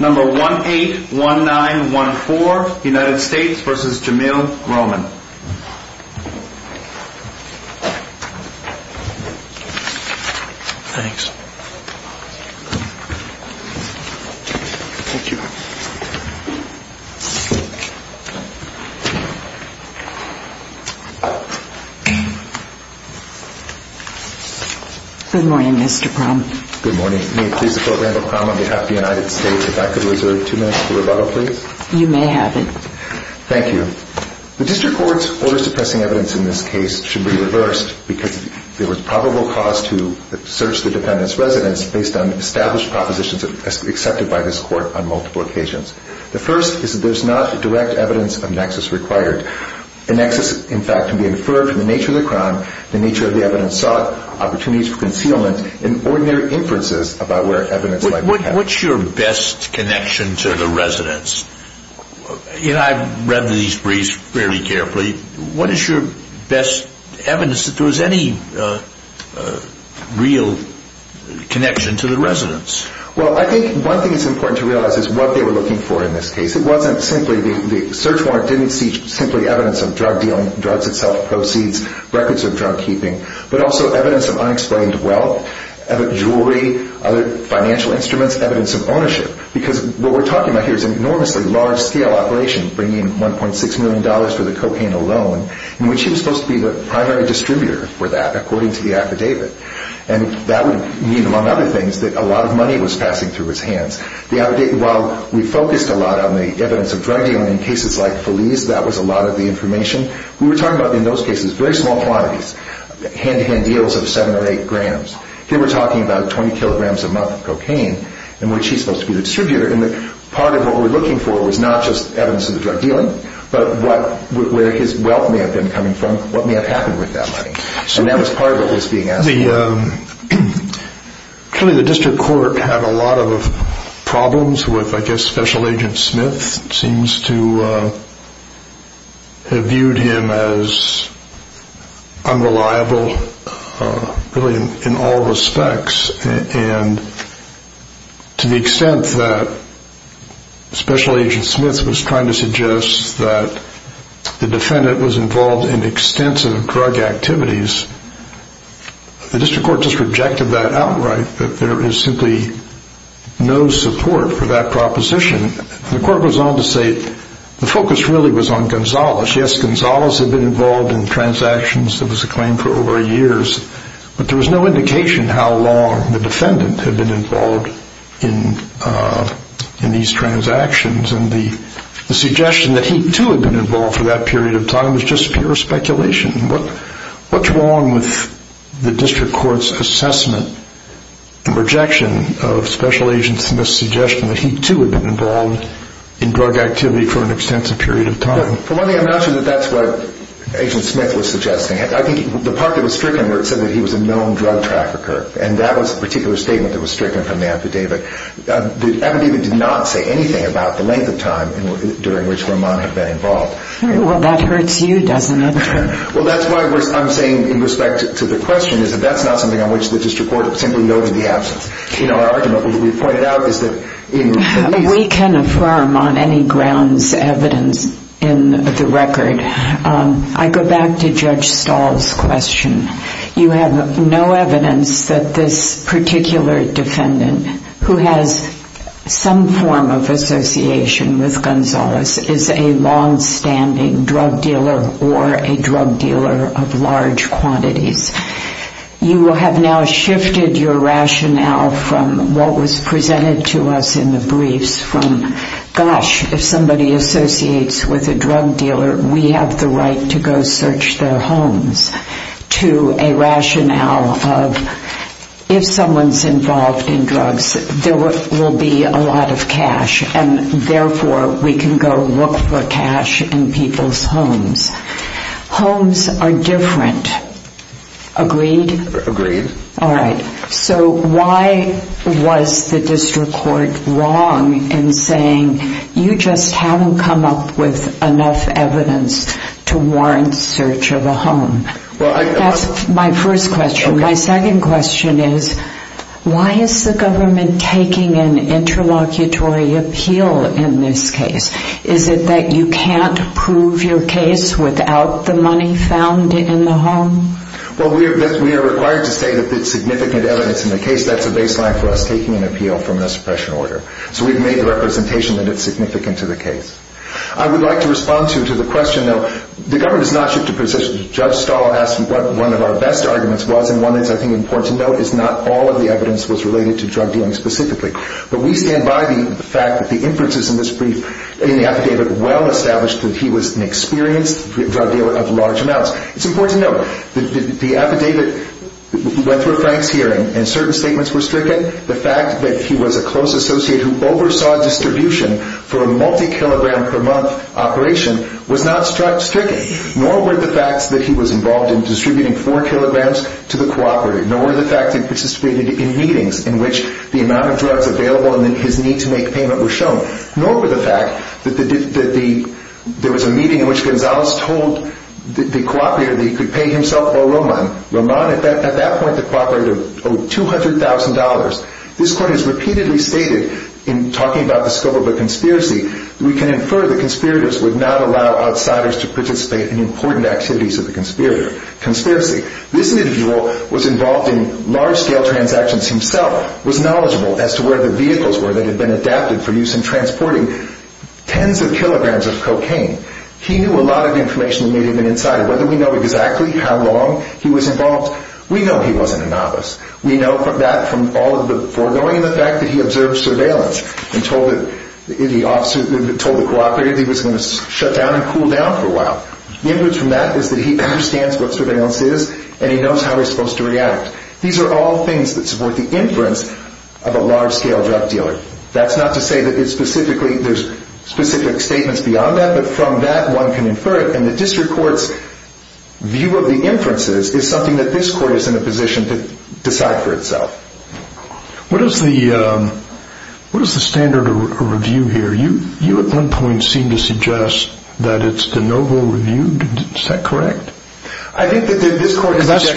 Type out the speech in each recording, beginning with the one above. Number 181914, United States v. Jamil Roman Thanks Thank you Good morning, Mr. Prom Good morning. May it please the Court, Randall Prom, on behalf of the United States, if I could reserve two minutes for rebuttal, please? You may have it. Thank you. The District Court's order suppressing evidence in this case should be reversed because there was probable cause to search the defendant's residence based on established propositions accepted by this Court on multiple occasions. The first is that there is not direct evidence of nexus required. A nexus, in fact, can be inferred from the nature of the crime, the nature of the evidence sought, opportunities for concealment, and ordinary inferences about where evidence might be kept. What's your best connection to the residence? I've read these briefs fairly carefully. What is your best evidence that there was any real connection to the residence? Well, I think one thing it's important to realize is what they were looking for in this case. It wasn't simply the search warrant didn't see simply evidence of drug dealing, drugs itself, proceeds, records of drug keeping, but also evidence of unexplained wealth, jewelry, other financial instruments, evidence of ownership. Because what we're talking about here is an enormously large-scale operation, bringing in $1.6 million for the cocaine alone, in which he was supposed to be the primary distributor for that, according to the affidavit. And that would mean, among other things, that a lot of money was passing through his hands. While we focused a lot on the evidence of drug dealing in cases like Feliz, that was a lot of the information. We were talking about, in those cases, very small quantities, hand-to-hand deals of seven or eight grams. Here we're talking about 20 kilograms a month of cocaine, in which he's supposed to be the distributor. And part of what we were looking for was not just evidence of the drug dealing, but where his wealth may have been coming from, what may have happened with that money. And that was part of what was being asked. The district court just rejected that outright, that there is simply no support for that proposition. The court goes on to say, the focus really was on Gonzales. Yes, Gonzales had been involved in transactions that was a claim for over years, but there was no indication how long the defendant had been involved in these transactions. And the suggestion that he, too, had been involved for that period of time is just pure speculation. What's wrong with the district court's assessment and rejection of Special Agent Smith's suggestion that he, too, had been involved in drug activity for an extensive period of time? For one thing, I'm not sure that that's what Agent Smith was suggesting. I think the part that was stricken where it said that he was a known drug trafficker, and that was a particular statement that was stricken from the affidavit. The affidavit did not say anything about the length of time during which Roman had been involved. Well, that hurts you, doesn't it? Well, that's why I'm saying, in respect to the question, that that's not something on which the district court simply noted the absence. Our argument, as we've pointed out, is that... We can affirm on any grounds evidence in the record. I go back to Judge Stahl's question. You have no evidence that this particular defendant, who has some form of association with Gonzalez, is a long-standing drug dealer or a drug dealer of large quantities. You have now shifted your rationale from what was presented to us in the briefs from, gosh, if somebody associates with a drug dealer, we have the right to go search their homes, to a rationale of, if someone's involved in drugs, there will be a lot of cash, and therefore we can go look for cash in people's homes. Homes are different. Agreed? Agreed. All right. So why was the district court wrong in saying, you just haven't come up with enough evidence to warrant search of a home? That's my first question. My second question is, why is the government taking an interlocutory appeal in this case? Is it that you can't prove your case without the money found in the home? Well, we are required to say that there's significant evidence in the case. That's a baseline for us taking an appeal from a suppression order. So we've made the representation that it's significant to the case. I would like to respond to the question, though. The government has not shifted positions. Judge Stahl asked what one of our best arguments was, and one that's, I think, important to note is not all of the evidence was related to drug dealing specifically. But we stand by the fact that the inferences in this brief, in the affidavit, well established that he was an experienced drug dealer of large amounts. It's important to note that the affidavit went through a Frank's hearing, and certain statements were stricken. The fact that he was a close associate who oversaw distribution for a multi-kilogram per month operation was not stricken. Nor were the facts that he was involved in distributing four kilograms to the cooperative. Nor were the facts that he participated in meetings in which the amount of drugs available and his need to make payment were shown. Nor were the facts that there was a meeting in which Gonzales told the cooperative that he could pay himself or Roman. Roman, at that point, the cooperative, owed $200,000. This court has repeatedly stated, in talking about the scope of the conspiracy, that we can infer the conspirators would not allow outsiders to participate in important activities of the conspiracy. This individual was involved in large-scale transactions himself, was knowledgeable as to where the vehicles were that had been adapted for use in transporting tens of kilograms of cocaine. He knew a lot of information that may have been inside. Whether we know exactly how long he was involved, we know he wasn't a novice. We know that from all of the foregoing and the fact that he observed surveillance and told the cooperative that he was going to shut down and cool down for a while. The inference from that is that he understands what surveillance is, and he knows how he's supposed to react. These are all things that support the inference of a large-scale drug dealer. That's not to say that there's specific statements beyond that, but from that one can infer it, and the district court's view of the inferences is something that this court is in a position to decide for itself. What is the standard of review here? You, at one point, seemed to suggest that it's de novo reviewed. Is that correct? That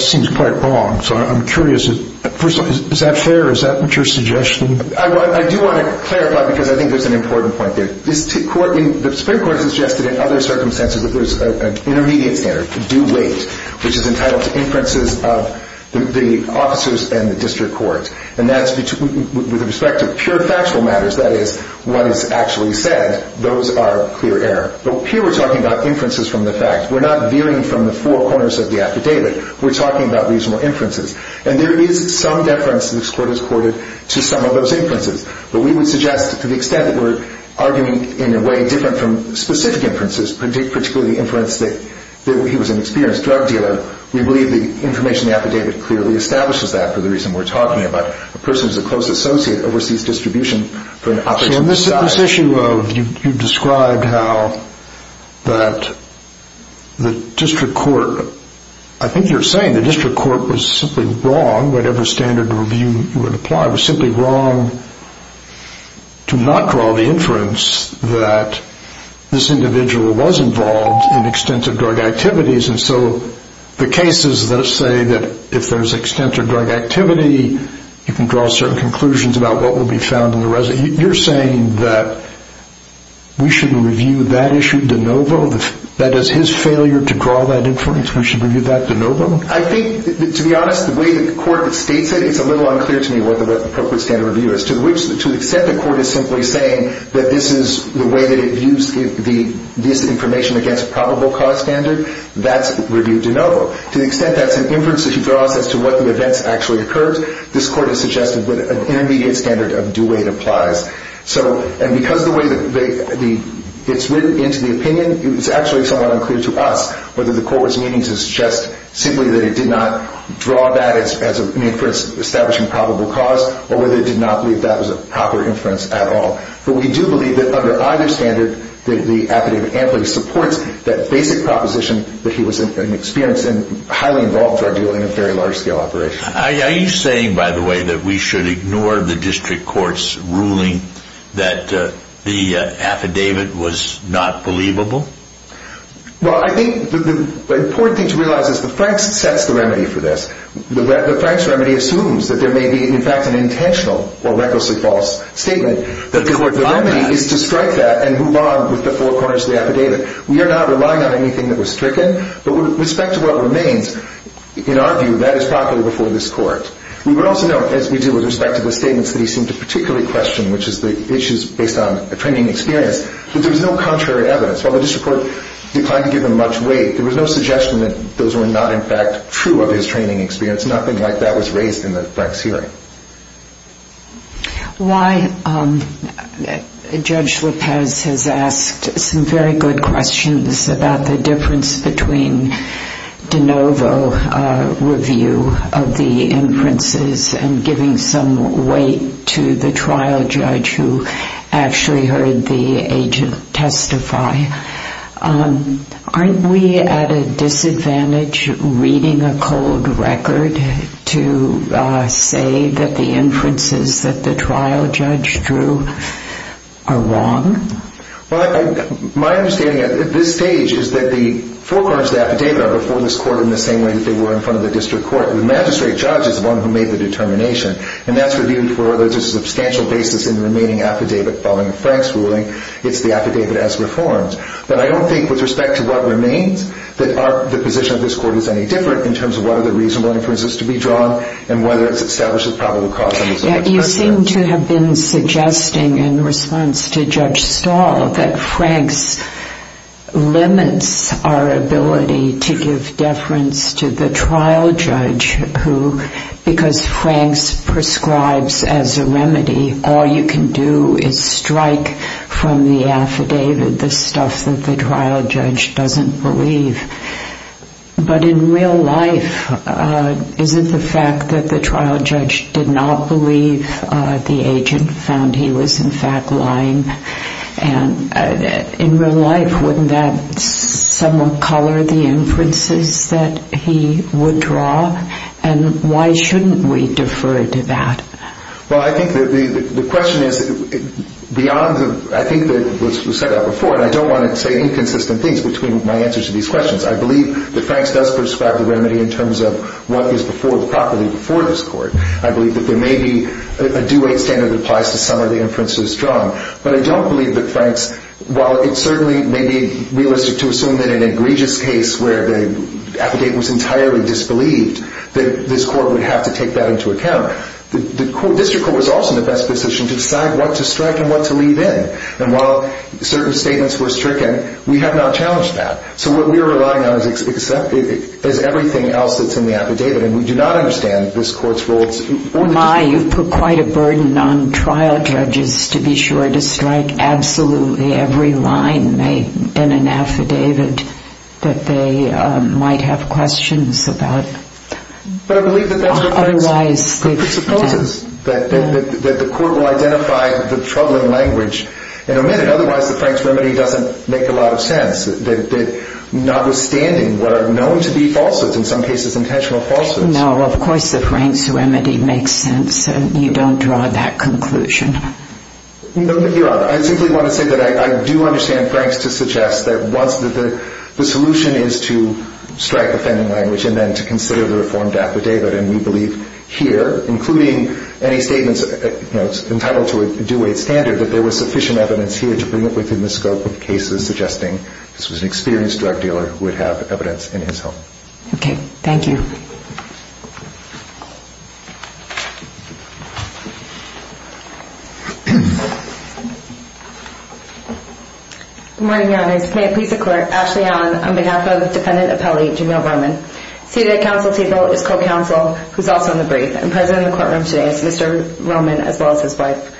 seems quite wrong, so I'm curious. First of all, is that fair? Is that what you're suggesting? I do want to clarify because I think there's an important point there. The Supreme Court has suggested in other circumstances that there's an intermediate standard, the due weight, which is entitled to inferences of the officers and the district court. With respect to pure factual matters, that is, what is actually said, those are clear error. But here we're talking about inferences from the facts. We're not veering from the four corners of the affidavit. We're talking about reasonable inferences, and there is some deference that this court has quoted to some of those inferences. But we would suggest to the extent that we're arguing in a way different from specific inferences, particularly the inference that he was an experienced drug dealer, we believe the information in the affidavit clearly establishes that for the reason we're talking about. A person who's a close associate oversees distribution for an operational society. And this issue of you described how that the district court, I think you're saying the district court was simply wrong, whatever standard review you would apply, was simply wrong to not draw the inference that this individual was involved in extensive drug activities. And so the cases that say that if there's extensive drug activity, you can draw certain conclusions about what will be found in the residue. You're saying that we shouldn't review that issue de novo? That as his failure to draw that inference, we should review that de novo? I think, to be honest, the way the court states it, it's a little unclear to me what the appropriate standard review is. To the extent the court is simply saying that this is the way that it views this information against probable cause standard, that's reviewed de novo. To the extent that's an inference that he draws as to what the events actually occurred, this court has suggested that an intermediate standard of due weight applies. And because the way that it's written into the opinion, it's actually somewhat unclear to us whether the court's meaning is just simply that it did not draw that as an inference establishing probable cause, or whether it did not believe that was a proper inference at all. But we do believe that under either standard, that the affidavit amply supports that basic proposition that he was an experienced and highly involved drug dealer in a very large scale operation. Are you saying, by the way, that we should ignore the district court's ruling that the affidavit was not believable? Well, I think the important thing to realize is the Franks sets the remedy for this. The Franks remedy assumes that there may be, in fact, an intentional or recklessly false statement. The remedy is to strike that and move on with the four corners of the affidavit. We are not relying on anything that was stricken, but with respect to what remains, in our view, that is proper before this court. We would also note, as we do with respect to the statements that he seemed to particularly question, which is the issues based on a training experience, that there was no contrary evidence. While the district court declined to give him much weight, there was no suggestion that those were not, in fact, true of his training experience. Nothing like that was raised in the Franks hearing. Judge Lopez has asked some very good questions about the difference between de novo review of the inferences and giving some weight to the trial judge who actually heard the agent testify. Aren't we at a disadvantage reading a cold record to say that the inferences that the trial judge drew are wrong? Well, my understanding at this stage is that the four corners of the affidavit are before this court in the same way that they were in front of the district court. The magistrate judge is the one who made the determination, and that's reviewed for a substantial basis in the remaining affidavit following Frank's ruling. It's the affidavit as reformed. But I don't think, with respect to what remains, that the position of this court is any different in terms of what are the reasonable inferences to be drawn and whether it's established as probable cause. You seem to have been suggesting in response to Judge Stahl that Franks limits our ability to give deference to the trial judge who, because Franks prescribes as a remedy, all you can do is strike from the affidavit the stuff that the trial judge doesn't believe. But in real life, isn't the fact that the trial judge did not believe the agent found he was in fact lying, and in real life, wouldn't that somewhat color the inferences that he would draw? And why shouldn't we defer to that? Well, I think that the question is beyond the – I think that, as was said before, and I don't want to say inconsistent things between my answers to these questions, I believe that Franks does prescribe the remedy in terms of what is before – properly before this court. I believe that there may be a duet standard that applies to some of the inferences drawn. But I don't believe that Franks – while it certainly may be realistic to assume that in an egregious case where the affidavit was entirely disbelieved, that this court would have to take that into account, the district court was also in the best position to decide what to strike and what to leave in. And while certain statements were stricken, we have not challenged that. So what we are relying on is everything else that's in the affidavit. And we do not understand if this court's role is – Oh, my, you've put quite a burden on trial judges to be sure to strike absolutely every line in an affidavit that they might have questions about. But I believe that that's what Franks – Otherwise – It supposes that the court will identify the troubling language in a minute. Otherwise, the Franks remedy doesn't make a lot of sense. Notwithstanding what are known to be falsehoods, in some cases intentional falsehoods. No, of course the Franks remedy makes sense. You don't draw that conclusion. No, but Your Honor, I simply want to say that I do understand Franks to suggest that the solution is to strike the fending language and then to consider the reformed affidavit. And we believe here, including any statements entitled to a duet standard, that there was sufficient evidence here to bring it within the scope of cases suggesting this was an experienced drug dealer who would have evidence in his home. Okay, thank you. Good morning, Your Honors. May it please the Court, Ashley Allen on behalf of the defendant appellee, Jameel Roman. Seated at council table is co-counsel, who's also on the brief. And present in the courtroom today is Mr. Roman as well as his wife.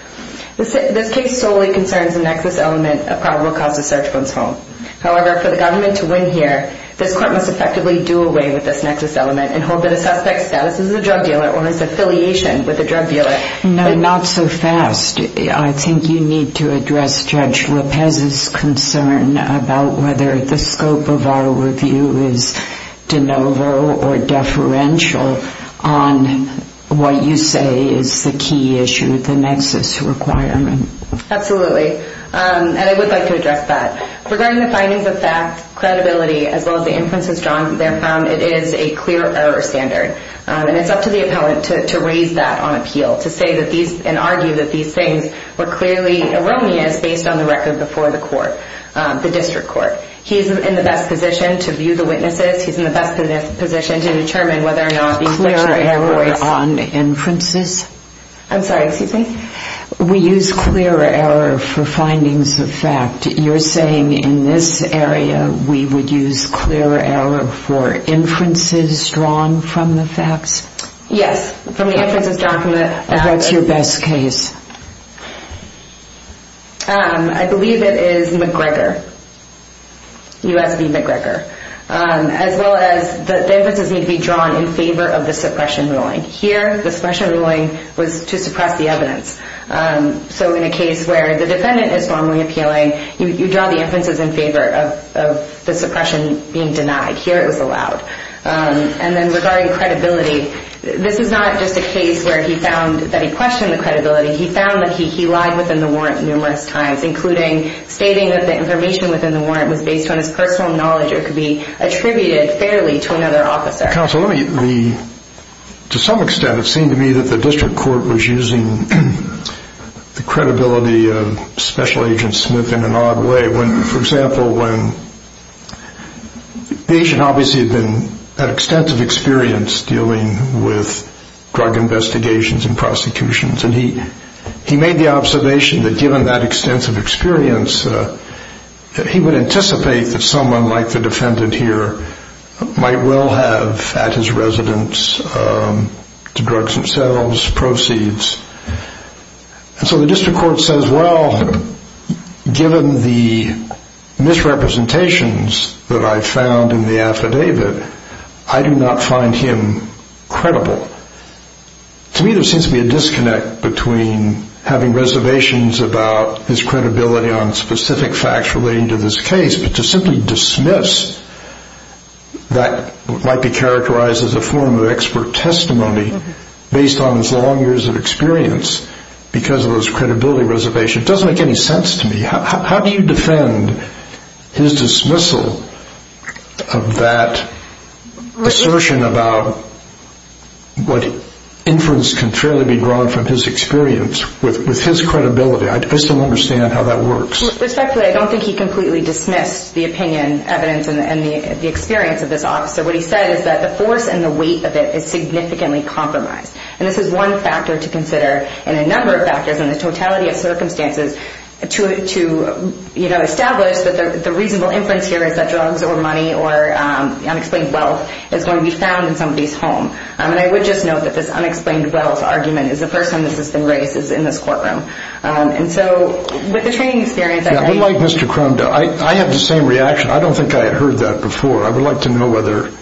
This case solely concerns the nexus element of probable cause of search of one's home. However, for the government to win here, this court must effectively do away with this nexus element and hold that a suspect's status as a drug dealer or his affiliation with a drug dealer. No, not so fast. I think you need to address Judge Lopez's concern about whether the scope of our review is de novo or deferential on what you say is the key issue, the nexus requirement. Absolutely. And I would like to address that. Regarding the findings of fact, credibility, as well as the inferences drawn therefrom, it is a clear error standard. And it's up to the appellant to raise that on appeal and argue that these things were clearly erroneous based on the record before the court, the district court. He's in the best position to view the witnesses. He's in the best position to determine whether or not the inferences. Clear error on inferences? I'm sorry, excuse me? We use clear error for findings of fact. You're saying in this area we would use clear error for inferences drawn from the facts? Yes, from the inferences drawn from the facts. And what's your best case? I believe it is McGregor. USB McGregor. As well as the inferences need to be drawn in favor of the suppression ruling. Here the suppression ruling was to suppress the evidence. So in a case where the defendant is formally appealing, you draw the inferences in favor of the suppression being denied. Here it was allowed. And then regarding credibility, this is not just a case where he found that he questioned the credibility. He found that he lied within the warrant numerous times, including stating that the information within the warrant was based on his personal knowledge or could be attributed fairly to another officer. Counsel, to some extent it seemed to me that the district court was using the credibility of Special Agent Smith in an odd way. For example, the agent obviously had extensive experience dealing with drug investigations and prosecutions. And he made the observation that given that extensive experience, that he would anticipate that someone like the defendant here might well have at his residence the drugs themselves, proceeds. And so the district court says, well, given the misrepresentations that I found in the affidavit, I do not find him credible. To me there seems to be a disconnect between having reservations about his credibility on specific facts relating to this case, but to simply dismiss that might be characterized as a form of expert testimony based on his long years of experience because of those credibility reservations. It doesn't make any sense to me. How do you defend his dismissal of that assertion about what inference can fairly be drawn from his experience with his credibility? I just don't understand how that works. Respectfully, I don't think he completely dismissed the opinion, evidence, and the experience of this officer. What he said is that the force and the weight of it is significantly compromised. And this is one factor to consider and a number of factors in the totality of circumstances to establish that the reasonable inference here is that drugs or money or unexplained wealth is going to be found in somebody's home. And I would just note that this unexplained wealth argument is the first time this has been raised in this courtroom. And so with the training experience, I agree. I'm like Mr. Cromdell. I have the same reaction. I don't think I had heard that before. I would like to know whether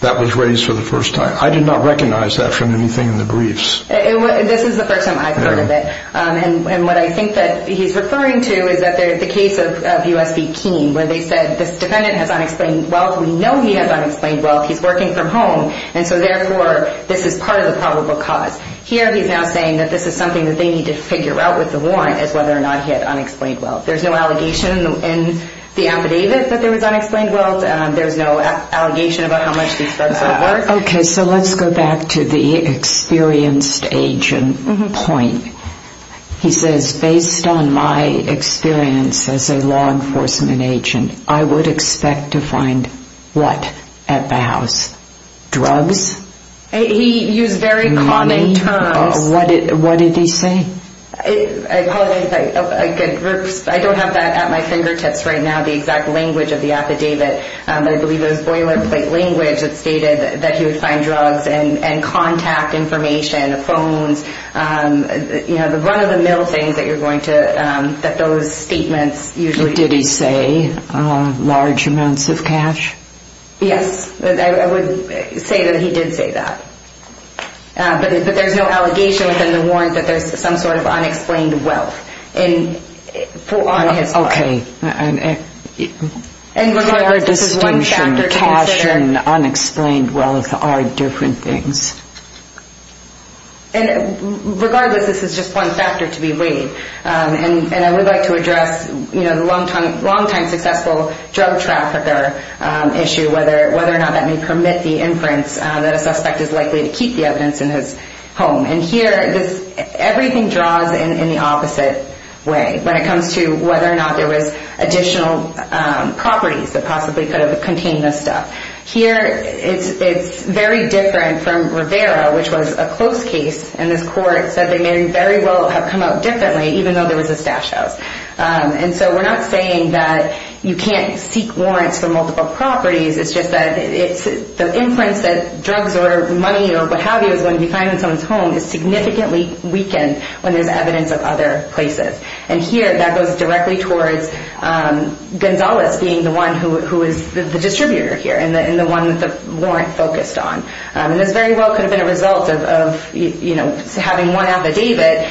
that was raised for the first time. I did not recognize that from anything in the briefs. This is the first time I've heard of it. And what I think that he's referring to is the case of U.S. v. Keene where they said this defendant has unexplained wealth. We know he has unexplained wealth. He's working from home. And so, therefore, this is part of the probable cause. Here he's now saying that this is something that they need to figure out with the warrant is whether or not he had unexplained wealth. There's no allegation in the affidavit that there was unexplained wealth. There's no allegation about how much these drugs would have worked. Okay, so let's go back to the experienced agent point. He says, based on my experience as a law enforcement agent, I would expect to find what at the house? Drugs? He used very common terms. What did he say? I apologize. I don't have that at my fingertips right now, the exact language of the affidavit. But I believe it was boilerplate language that stated that he would find drugs and contact information, phones. You know, one of the middle things that you're going to, that those statements usually... Did he say large amounts of cash? Yes. I would say that he did say that. But there's no allegation within the warrant that there's some sort of unexplained wealth on his part. Okay. Cash and unexplained wealth are different things. And regardless, this is just one factor to be weighed. And I would like to address the longtime successful drug trafficker issue, whether or not that may permit the inference that a suspect is likely to keep the evidence in his home. And here, everything draws in the opposite way when it comes to whether or not there was additional properties that possibly could have contained this stuff. Here, it's very different from Rivera, which was a close case. And this court said they may very well have come out differently, even though there was a stash house. And so we're not saying that you can't seek warrants for multiple properties. It's just that the inference that drugs or money or what have you is going to be found in someone's home is significantly weakened when there's evidence of other places. And here, that goes directly towards Gonzalez being the one who is the distributor here and the one that the warrant focused on. And this very well could have been a result of having one affidavit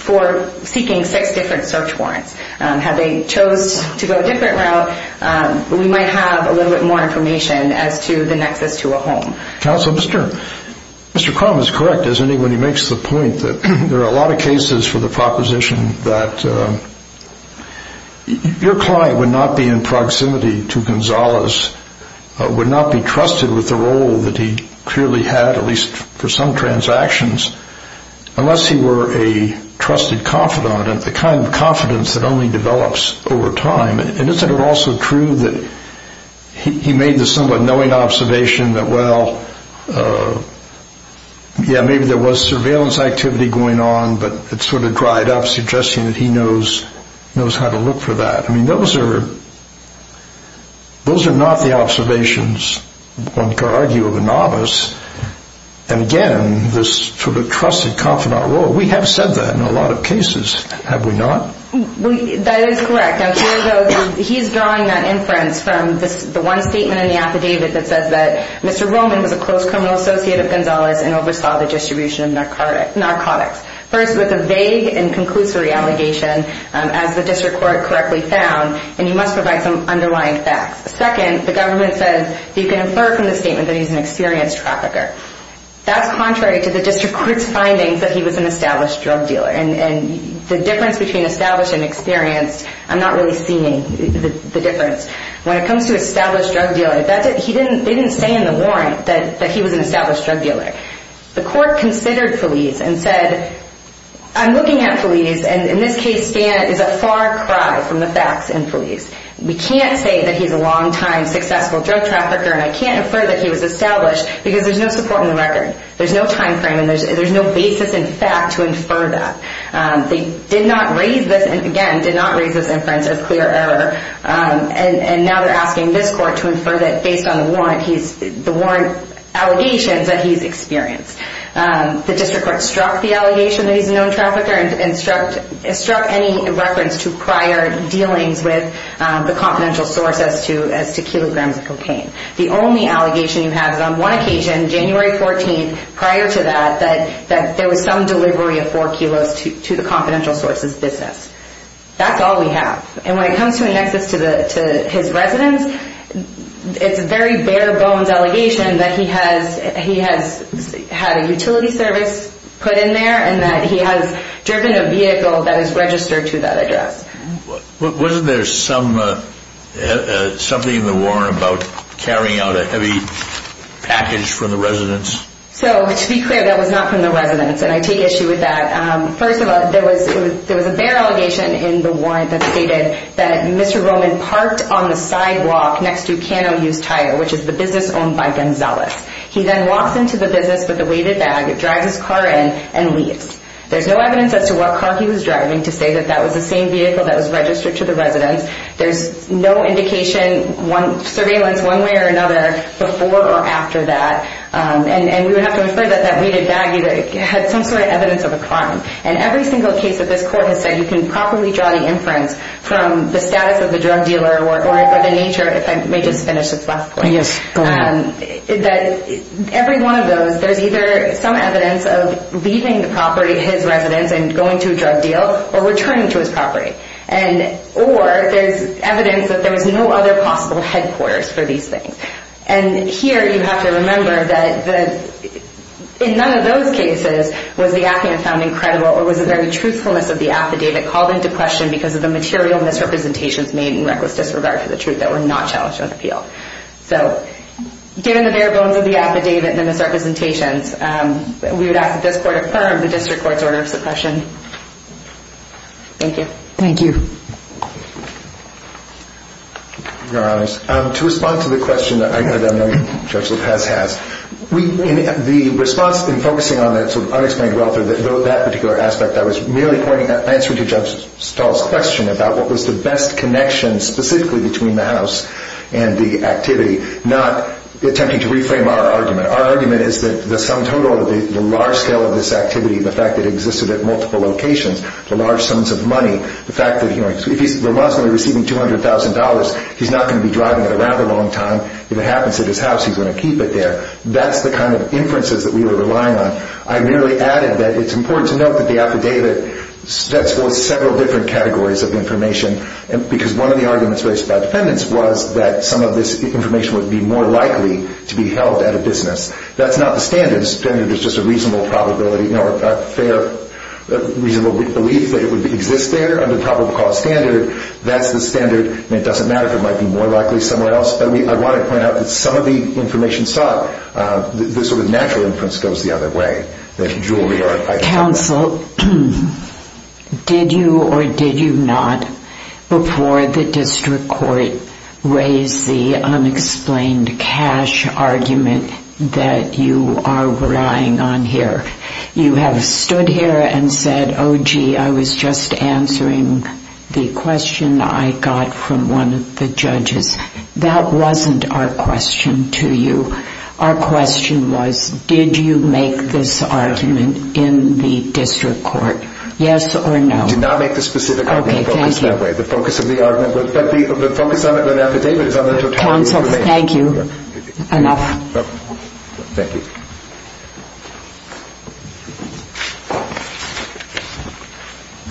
for seeking six different search warrants. Had they chose to go a different route, we might have a little bit more information as to the nexus to a home. Counsel, Mr. Cromb is correct, isn't he, when he makes the point that there are a lot of cases for the proposition that your client would not be in proximity to Gonzalez, would not be trusted with the role that he clearly had, at least for some transactions, unless he were a trusted confidant, the kind of confidence that only develops over time. And isn't it also true that he made the somewhat knowing observation that, well, yeah, maybe there was surveillance activity going on, but it sort of dried up, suggesting that he knows how to look for that. I mean, those are not the observations, one could argue, of a novice. And again, this sort of trusted confidant role, we have said that in a lot of cases, have we not? That is correct. Now, here, though, he's drawing that inference from the one statement in the affidavit that says that Mr. Roman was a close criminal associate of Gonzalez and oversaw the distribution of narcotics. First, with a vague and conclusory allegation, as the district court correctly found, and you must provide some underlying facts. Second, the government says that you can infer from the statement that he's an experienced trafficker. That's contrary to the district court's findings that he was an established drug dealer. And the difference between established and experienced, I'm not really seeing the difference. When it comes to established drug dealers, they didn't say in the warrant that he was an established drug dealer. The court considered Feliz and said, I'm looking at Feliz, and in this case, Stan is a far cry from the facts in Feliz. We can't say that he's a long-time successful drug trafficker, and I can't infer that he was established because there's no support in the record. There's no time frame, and there's no basis in fact to infer that. They did not raise this inference as clear error, and now they're asking this court to infer that based on the warrant allegations that he's experienced. The district court struck the allegation that he's a known trafficker and struck any reference to prior dealings with the confidential source as to kilograms of cocaine. The only allegation you have is on one occasion, January 14th, prior to that, that there was some delivery of four kilos to the confidential source's business. That's all we have, and when it comes to a nexus to his residence, it's a very bare bones allegation that he has had a utility service put in there and that he has driven a vehicle that is registered to that address. Wasn't there something in the warrant about carrying out a heavy package for the residence? To be clear, that was not from the residence, and I take issue with that. First of all, there was a bare allegation in the warrant that stated that Mr. Roman parked on the sidewalk next to Kano Hughes Tire, which is the business owned by Gonzalez. He then walks into the business with a weighted bag, drives his car in, and leaves. There's no evidence as to what car he was driving to say that that was the same vehicle that was registered to the residence. There's no indication, surveillance one way or another, before or after that. We would have to infer that that weighted bag had some sort of evidence of a crime. Every single case that this court has said you can properly draw the inference from the status of the drug dealer or the nature of it, if I may just finish this last point. Yes, go ahead. Every one of those, there's either some evidence of leaving the property, his residence, and going to a drug deal or returning to his property, or there's evidence that there was no other possible headquarters for these things. Here you have to remember that in none of those cases was the affidavit found incredible or was the very truthfulness of the affidavit called into question because of the material misrepresentations made in reckless disregard for the truth that were not challenged on appeal. Given the bare bones of the affidavit and the misrepresentations, we would ask that this court affirm the district court's order of suppression. Thank you. Thank you. Your Honor, to respond to the question that Judge LaPaz has, the response in focusing on that sort of unexplained wealth or that particular aspect, I was merely answering to Judge Stahl's question about what was the best connection specifically between the house and the activity, not attempting to reframe our argument. Our argument is that the sum total of the large scale of this activity, the fact that it existed at multiple locations, the large sums of money, the fact that if he's remorsefully receiving $200,000, he's not going to be driving it around a long time. If it happens at his house, he's going to keep it there. That's the kind of inferences that we were relying on. I merely added that it's important to note that the affidavit sets forth several different categories of information because one of the arguments raised by defendants was that some of this information would be more likely to be held at a business. That's not the standards. The standard is just a reasonable probability, a fair reasonable belief that it would exist there under the probable cause standard. That's the standard. It doesn't matter if it might be more likely somewhere else. I want to point out that some of the information sought, the sort of natural inference goes the other way, that jewelry are a title. Counsel, did you or did you not, before the district court raised the unexplained cash argument that you are relying on here, you have stood here and said, oh gee, I was just answering the question I got from one of the judges. That wasn't our question to you. Our question was, did you make this argument in the district court? Yes or no? I did not make the specific argument focused that way. Okay, thank you. The focus of the argument, but the focus of the affidavit is on the totality of the case. Counsel, thank you. Another. Thank you.